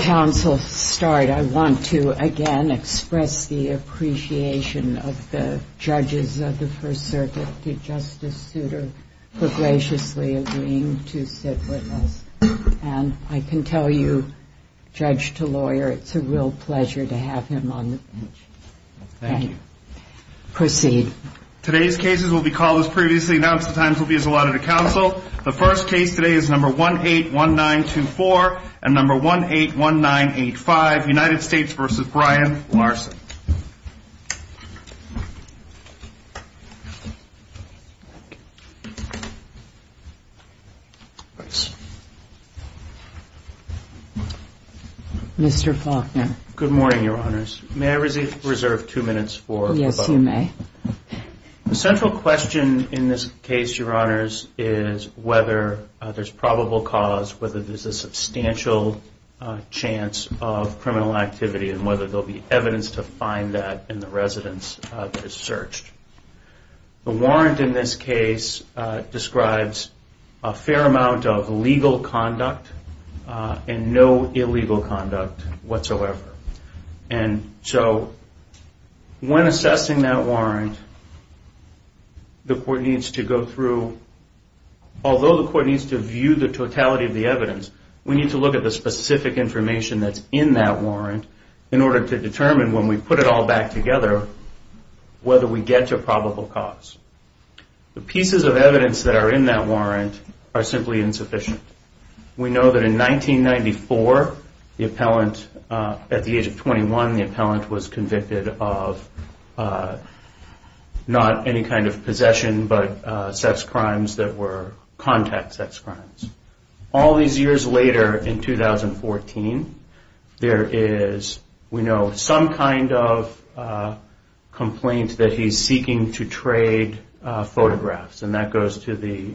I want to again express the appreciation of the judges of the First Circuit to Justice Souter for graciously agreeing to sit with us. And I can tell you, judge to lawyer, it's a real pleasure to have him on the bench. Thank you. Proceed. Today's cases will be called as previously announced. The times will be as allotted to counsel. The first case today is number 181924 and number 181985, United States v. Brian Larson. Mr. Faulkner. Good morning, your honors. May I reserve two minutes for the vote? Yes, you may. The central question in this case, your honors, is whether there's probable cause, whether there's a substantial chance of criminal activity, and whether there will be evidence to find that in the residence that is searched. The warrant in this case describes a fair amount of legal conduct and no illegal conduct whatsoever. And so when assessing that warrant, the court needs to go through, although the court needs to view the totality of the evidence, we need to look at the specific information that's in that warrant in order to determine when we put it all back together whether we get to probable cause. The pieces of evidence that are in that warrant are simply insufficient. We know that in 1994, the appellant, at the age of 21, the appellant was convicted of not any kind of possession but sex crimes that were contact sex crimes. All these years later, in 2014, there is, we know, some kind of complaint that he's seeking to trade photographs, and that goes to the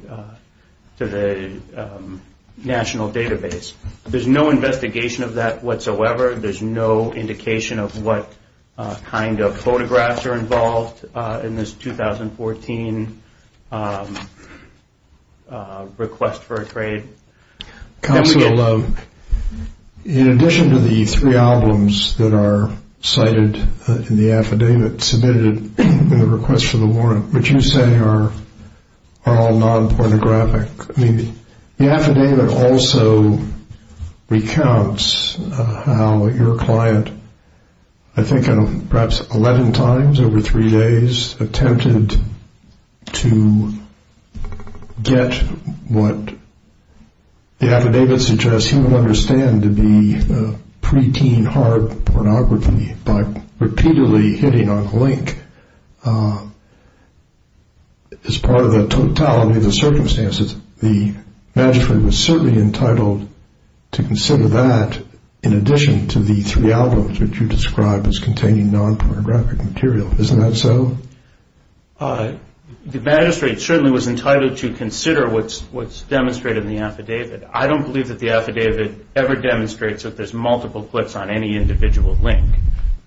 national database. There's no investigation of that whatsoever. There's no indication of what kind of photographs are involved in this 2014 request for a trade. Counsel, in addition to the three albums that are cited in the affidavit submitted in the request for the warrant, which you say are all non-pornographic, the affidavit also recounts how your client, I think perhaps 11 times over three days, attempted to get what the affidavit suggests he would understand to be preteen hard pornography by repeatedly hitting on the link. As part of the totality of the circumstances, the magistrate was certainly entitled to consider that in addition to the three albums that you described as containing non-pornographic material. Isn't that so? The magistrate certainly was entitled to consider what's demonstrated in the affidavit. I don't believe that the affidavit ever demonstrates that there's multiple clips on any individual link.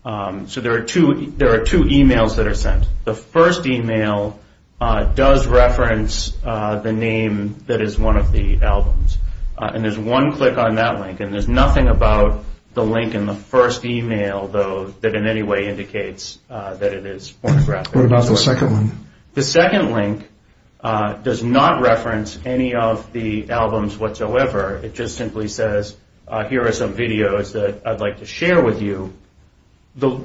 There are two emails that are sent. The first email does reference the name that is one of the albums, and there's one click on that link. There's nothing about the link in the first email, though, that in any way indicates that it is pornographic. What about the second one? The second link does not reference any of the albums whatsoever. It just simply says, here are some videos that I'd like to share with you. The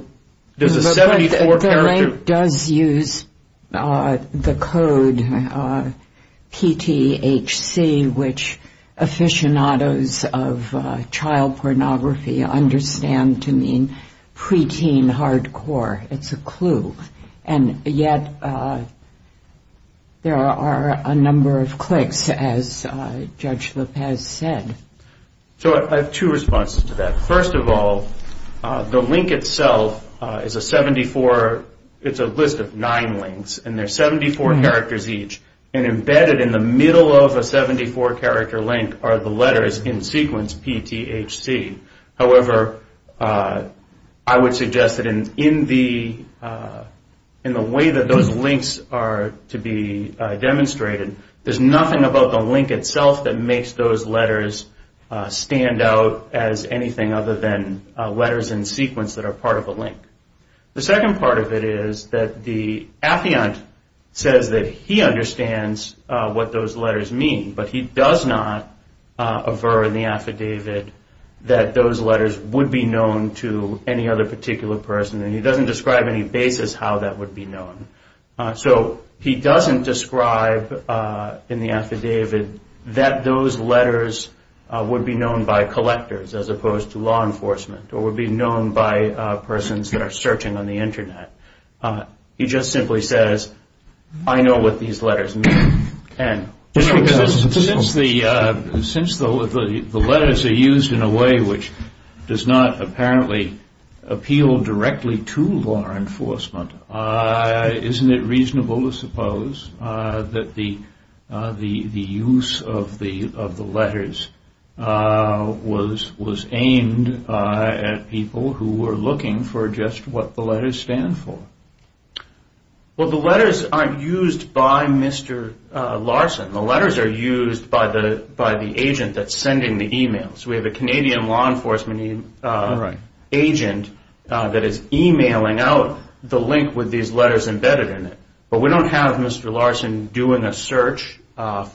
link does use the code PTHC, which aficionados of child pornography understand to mean preteen hardcore. It's a clue. Yet there are a number of clicks, as Judge Lopez said. I have two responses to that. First of all, the link itself is a list of nine links, and there are 74 characters each. Embedded in the middle of a 74-character link are the letters in sequence PTHC. However, I would suggest that in the way that those links are to be demonstrated, there's nothing about the link itself that makes those letters stand out as anything other than letters in sequence that are part of a link. The second part of it is that the affiant says that he understands what those letters mean, but he does not aver in the affidavit that those letters would be known to any other particular person, and he doesn't describe any basis how that would be known. So he doesn't describe in the affidavit that those letters would be known by collectors, as opposed to law enforcement, or would be known by persons that are searching on the Internet. He just simply says, I know what these letters mean. Since the letters are used in a way which does not apparently appeal directly to law enforcement, isn't it reasonable to suppose that the use of the letters was aimed at people who were looking for just what the letters stand for? Well, the letters aren't used by Mr. Larson. The letters are used by the agent that's sending the emails. We have a Canadian law enforcement agent that is emailing out the link with these letters embedded in it, but we don't have Mr. Larson doing a search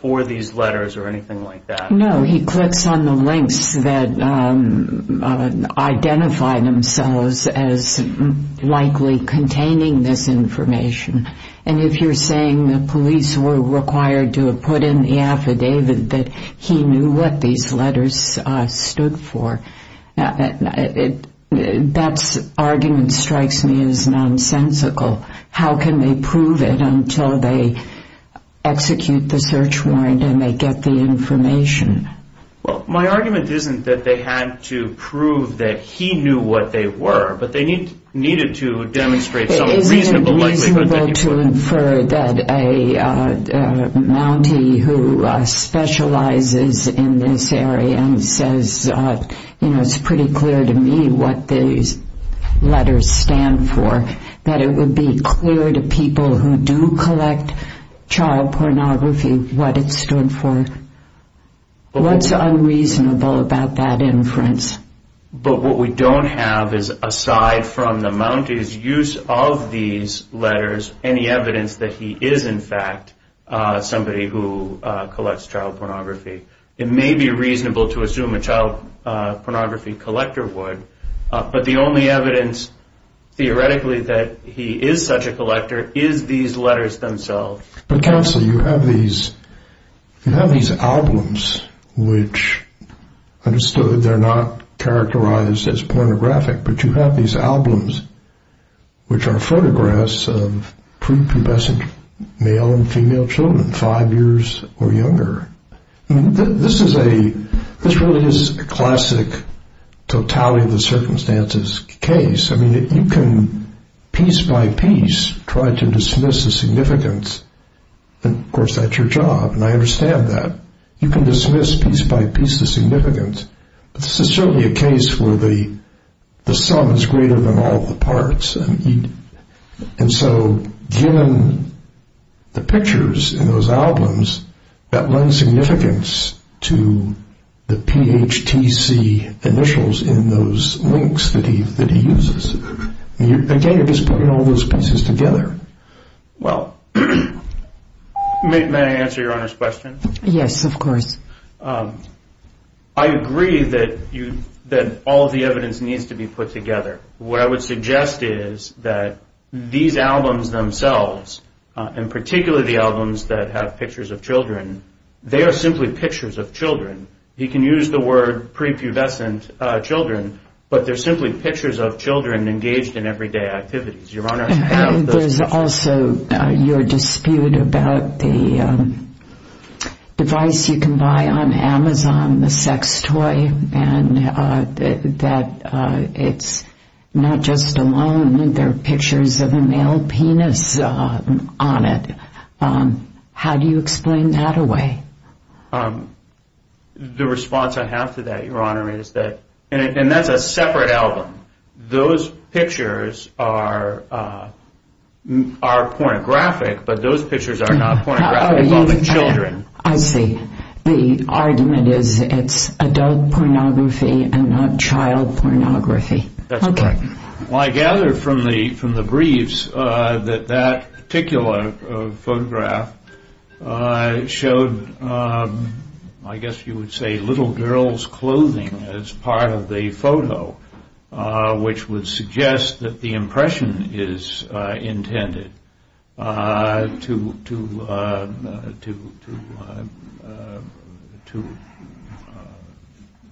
for these letters or anything like that. No, he clicks on the links that identify themselves as likely containing this information, and if you're saying the police were required to have put in the affidavit that he knew what these letters stood for, that argument strikes me as nonsensical. How can they prove it until they execute the search warrant and they get the information? Well, my argument isn't that they had to prove that he knew what they were, but they needed to demonstrate some reasonable likelihood that he would. Isn't it reasonable to infer that a Mountie who specializes in this area and says, you know, it's pretty clear to me what these letters stand for, that it would be clear to people who do collect child pornography what it stood for? What's unreasonable about that inference? But what we don't have is, aside from the Mountie's use of these letters, any evidence that he is, in fact, somebody who collects child pornography. It may be reasonable to assume a child pornography collector would, but the only evidence, theoretically, that he is such a collector is these letters themselves. But Counsel, you have these albums which, understood, they're not characterized as pornographic, but you have these albums which are photographs of prepubescent male and female children, five years or younger. This really is a classic totality of the circumstances case. I mean, you can piece by piece try to dismiss the significance, and, of course, that's your job, and I understand that. You can dismiss piece by piece the significance, but this is certainly a case where the sum is greater than all the parts. And so given the pictures in those albums, that lends significance to the PHTC initials in those links that he uses. Again, you're just putting all those pieces together. Well, may I answer Your Honor's question? Yes, of course. I agree that all the evidence needs to be put together. What I would suggest is that these albums themselves, and particularly the albums that have pictures of children, they are simply pictures of children. You can use the word prepubescent children, but they're simply pictures of children engaged in everyday activities. Your Honor. There's also your dispute about the device you can buy on Amazon, the sex toy, and that it's not just alone. There are pictures of a male penis on it. How do you explain that away? The response I have to that, Your Honor, is that, and that's a separate album. Those pictures are pornographic, but those pictures are not pornographic of all the children. I see. The argument is it's adult pornography and not child pornography. That's correct. Well, I gather from the briefs that that particular photograph showed, I guess you would say, little girls' clothing as part of the photo, which would suggest that the impression is intended to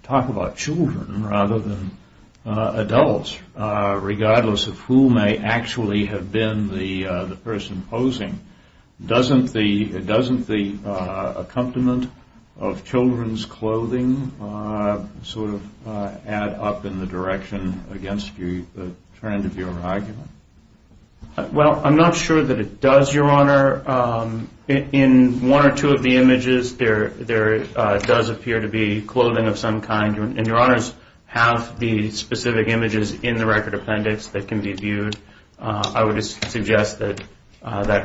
talk about children rather than adults, regardless of who may actually have been the person posing. Doesn't the accompaniment of children's clothing sort of add up in the direction against the trend of your argument? Well, I'm not sure that it does, Your Honor. In one or two of the images, there does appear to be clothing of some kind, and Your Honors have the specific images in the record appendix that can be viewed. I would suggest that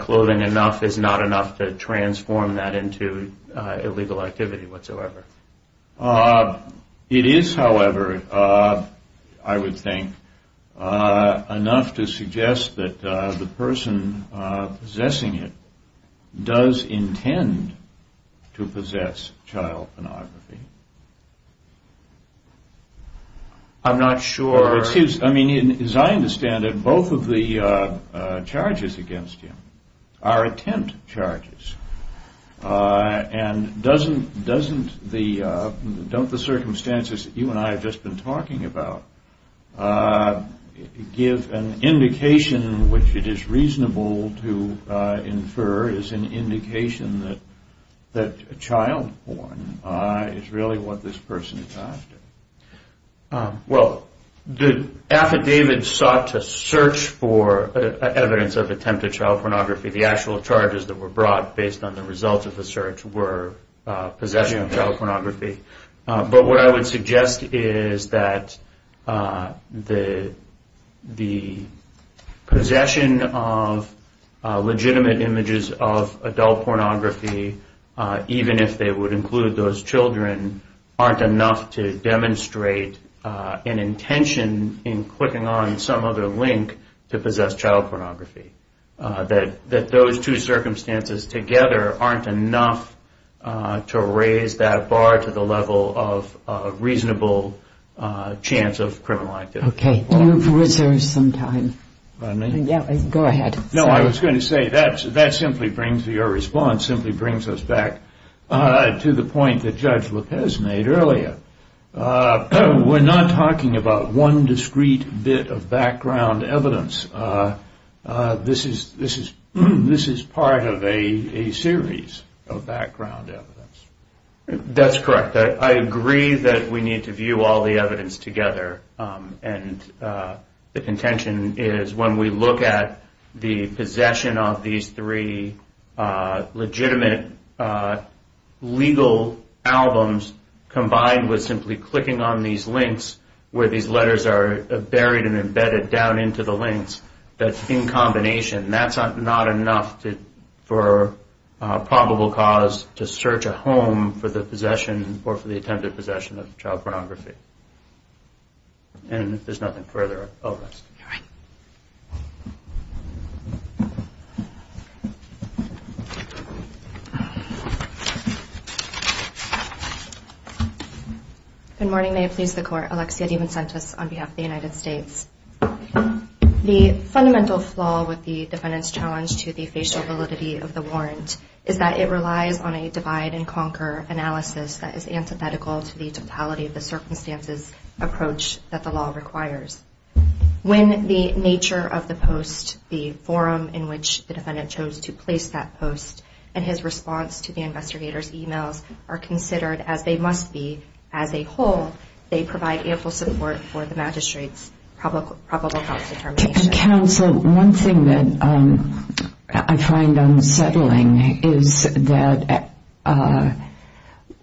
clothing enough is not enough to transform that into illegal activity whatsoever. It is, however, I would think, enough to suggest that the person possessing it does intend to possess child pornography. I'm not sure. As I understand it, both of the charges against him are attempt charges, and don't the circumstances that you and I have just been talking about give an indication which it is reasonable to infer as an indication that child porn is really what this person is after? Well, the affidavit sought to search for evidence of attempted child pornography. The actual charges that were brought based on the results of the search were possession of child pornography. But what I would suggest is that the possession of legitimate images of adult pornography, even if they would include those children, aren't enough to demonstrate an intention in clicking on some other link to possess child pornography. That those two circumstances together aren't enough to raise that bar to the level of a reasonable chance of criminal activity. Okay, you've reserved some time. Pardon me? Yeah, go ahead. No, I was going to say that simply brings your response, simply brings us back to the point that Judge Lopez made earlier. We're not talking about one discrete bit of background evidence. This is part of a series of background evidence. That's correct. I agree that we need to view all the evidence together, and the contention is when we look at the possession of these three legitimate legal albums combined with simply clicking on these links, where these letters are buried and embedded down into the links, that's in combination. That's not enough for probable cause to search a home for the possession or for the attempted possession of child pornography. And if there's nothing further, I'll rest. All right. Good morning. May it please the Court. Alexia DiVincentis on behalf of the United States. The fundamental flaw with the defendant's challenge to the facial validity of the warrant is that it relies on a divide-and-conquer analysis that is antithetical to the totality of the circumstances approach that the law requires. When the nature of the post, the forum in which the defendant chose to place that post, and his response to the investigator's emails are considered as they must be as a whole, they provide ample support for the magistrate's probable cause determination. Counsel, one thing that I find unsettling is that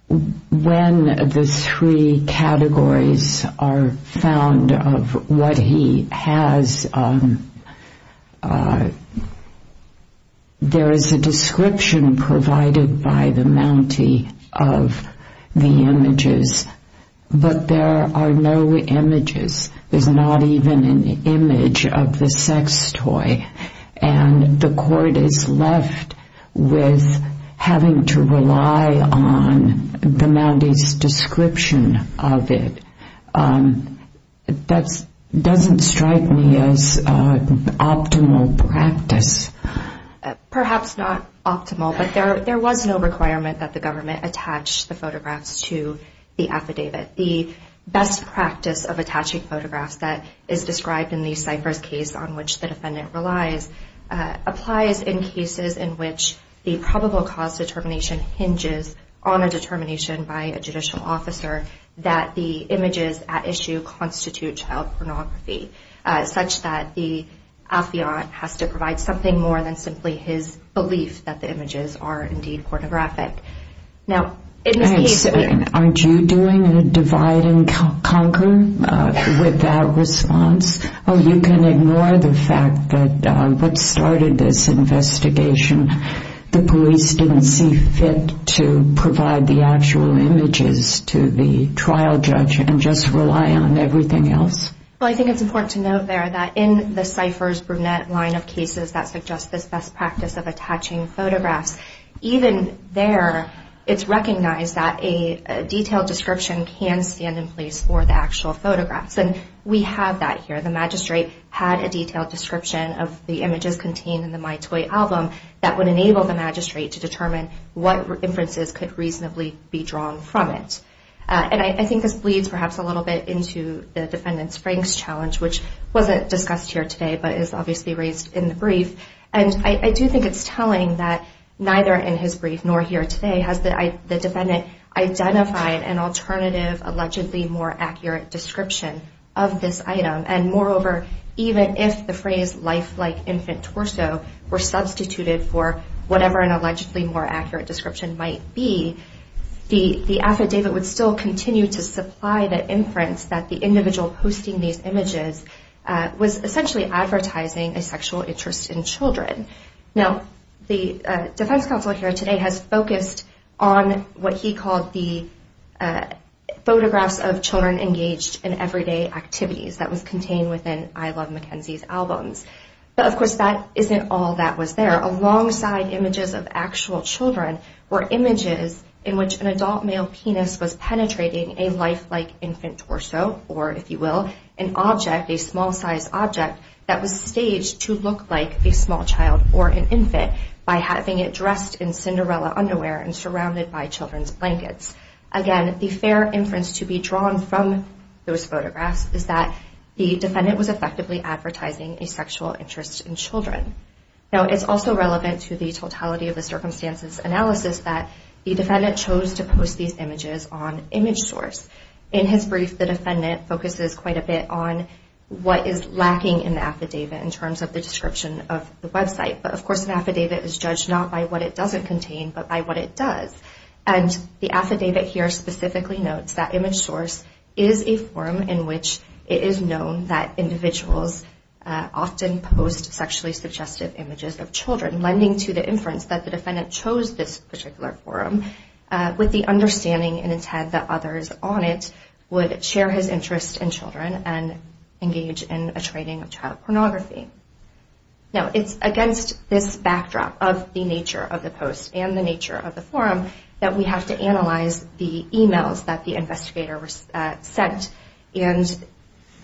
when the three categories are found of what he has, there is a description provided by the Mountie of the images, but there are no images. There's not even an image of the sex toy, and the Court is left with having to rely on the Mountie's description of it. That doesn't strike me as optimal practice. Perhaps not optimal, but there was no requirement that the government attach the photographs to the affidavit. The best practice of attaching photographs that is described in the Cypress case on which the defendant relies applies in cases in which the probable cause determination hinges on a determination by a judicial officer that the images at issue constitute child pornography, such that the affiant has to provide something more than simply his belief that the images are indeed pornographic. Aren't you doing a divide and conquer with that response? You can ignore the fact that what started this investigation, the police didn't see fit to provide the actual images to the trial judge and just rely on everything else? I think it's important to note there that in the Cypress-Brunette line of cases that suggest this best practice of attaching photographs, even there it's recognized that a detailed description can stand in place for the actual photographs. We have that here. The magistrate had a detailed description of the images contained in the My Toy album that would enable the magistrate to determine what inferences could reasonably be drawn from it. I think this bleeds perhaps a little bit into the defendant's Franks challenge, which wasn't discussed here today but is obviously raised in the brief. And I do think it's telling that neither in his brief nor here today has the defendant identified an alternative, allegedly more accurate description of this item. And moreover, even if the phrase life-like infant torso were substituted for whatever an allegedly more accurate description might be, the affidavit would still continue to supply the inference that the individual posting these images was essentially advertising a sexual interest in children. Now, the defense counsel here today has focused on what he called the photographs of children engaged in everyday activities that was contained within I Love Mackenzie's albums. But, of course, that isn't all that was there. Alongside images of actual children were images in which an adult male penis was penetrating a life-like infant torso or, if you will, an object, a small-sized object that was staged to look like a small child or an infant by having it dressed in Cinderella underwear and surrounded by children's blankets. Again, the fair inference to be drawn from those photographs is that the defendant was effectively advertising a sexual interest in children. Now, it's also relevant to the totality of the circumstances analysis that the defendant chose to post these images on ImageSource. In his brief, the defendant focuses quite a bit on what is lacking in the affidavit in terms of the description of the website. But, of course, an affidavit is judged not by what it doesn't contain but by what it does. And the affidavit here specifically notes that ImageSource is a forum in which it is known that individuals often post sexually suggestive images of children, lending to the inference that the defendant chose this particular forum with the understanding and intent that others on it would share his interest in children and engage in a trading of child pornography. Now, it's against this backdrop of the nature of the post and the nature of the forum that we have to analyze the emails that the investigator sent and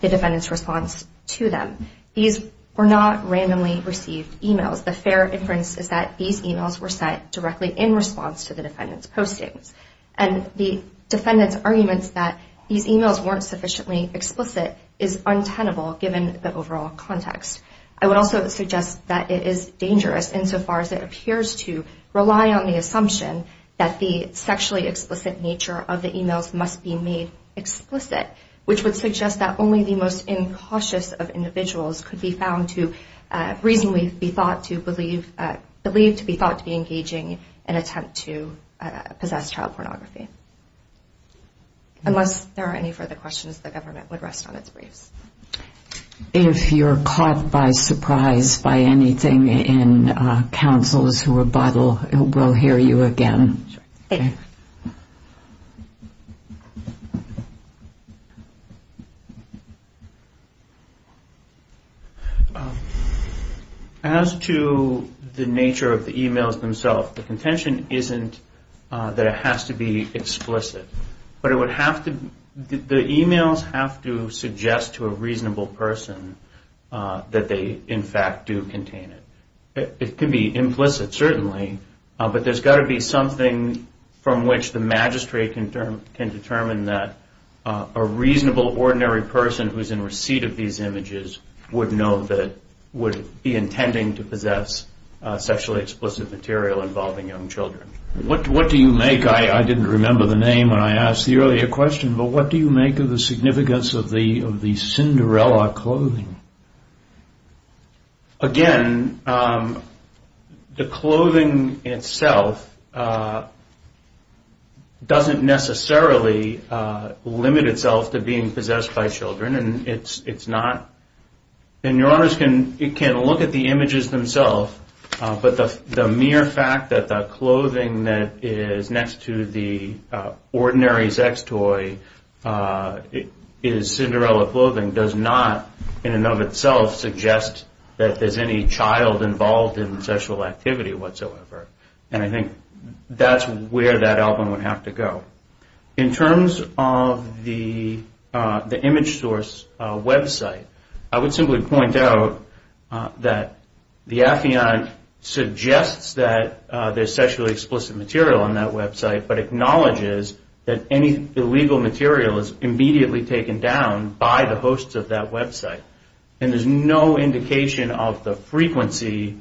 the defendant's response to them. These were not randomly received emails. The fair inference is that these emails were sent directly in response to the defendant's postings. And the defendant's arguments that these emails weren't sufficiently explicit is untenable given the overall context. I would also suggest that it is dangerous insofar as it appears to rely on the assumption that the sexually explicit nature of the emails must be made explicit, which would suggest that only the most incautious of individuals could be found to reasonably be thought to believe to be engaging in an attempt to possess child pornography. Unless there are any further questions, the government would rest on its briefs. If you're caught by surprise by anything in counsel's rebuttal, we'll hear you again. Thank you. As to the nature of the emails themselves, the contention isn't that it has to be explicit. But the emails have to suggest to a reasonable person that they, in fact, do contain it. It could be implicit, certainly. But there's got to be something from which the magistrate can determine that a reasonable, ordinary person who's in receipt of these images would know that would be intending to possess sexually explicit material involving young children. What do you make, I didn't remember the name when I asked the earlier question, but what do you make of the significance of the Cinderella clothing? Again, the clothing itself doesn't necessarily limit itself to being possessed by children, and it's not, and your honors can look at the images themselves, but the mere fact that the clothing that is next to the ordinary sex toy is Cinderella clothing does not, in and of itself, suggest that there's any child involved in sexual activity whatsoever. And I think that's where that album would have to go. In terms of the image source website, I would simply point out that the affiant suggests that there's sexually explicit material on that website, but acknowledges that any illegal material is immediately taken down by the hosts of that website. And there's no indication of the frequency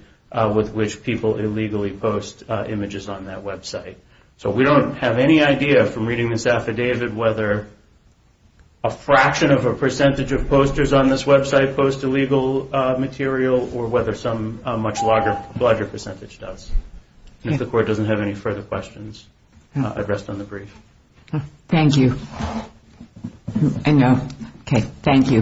with which people illegally post images on that website. So we don't have any idea from reading this affidavit whether a fraction of a percentage of posters on this website post illegal material, or whether some much larger percentage does. If the court doesn't have any further questions, I'd rest on the brief. Thank you. I know. Okay, thank you both.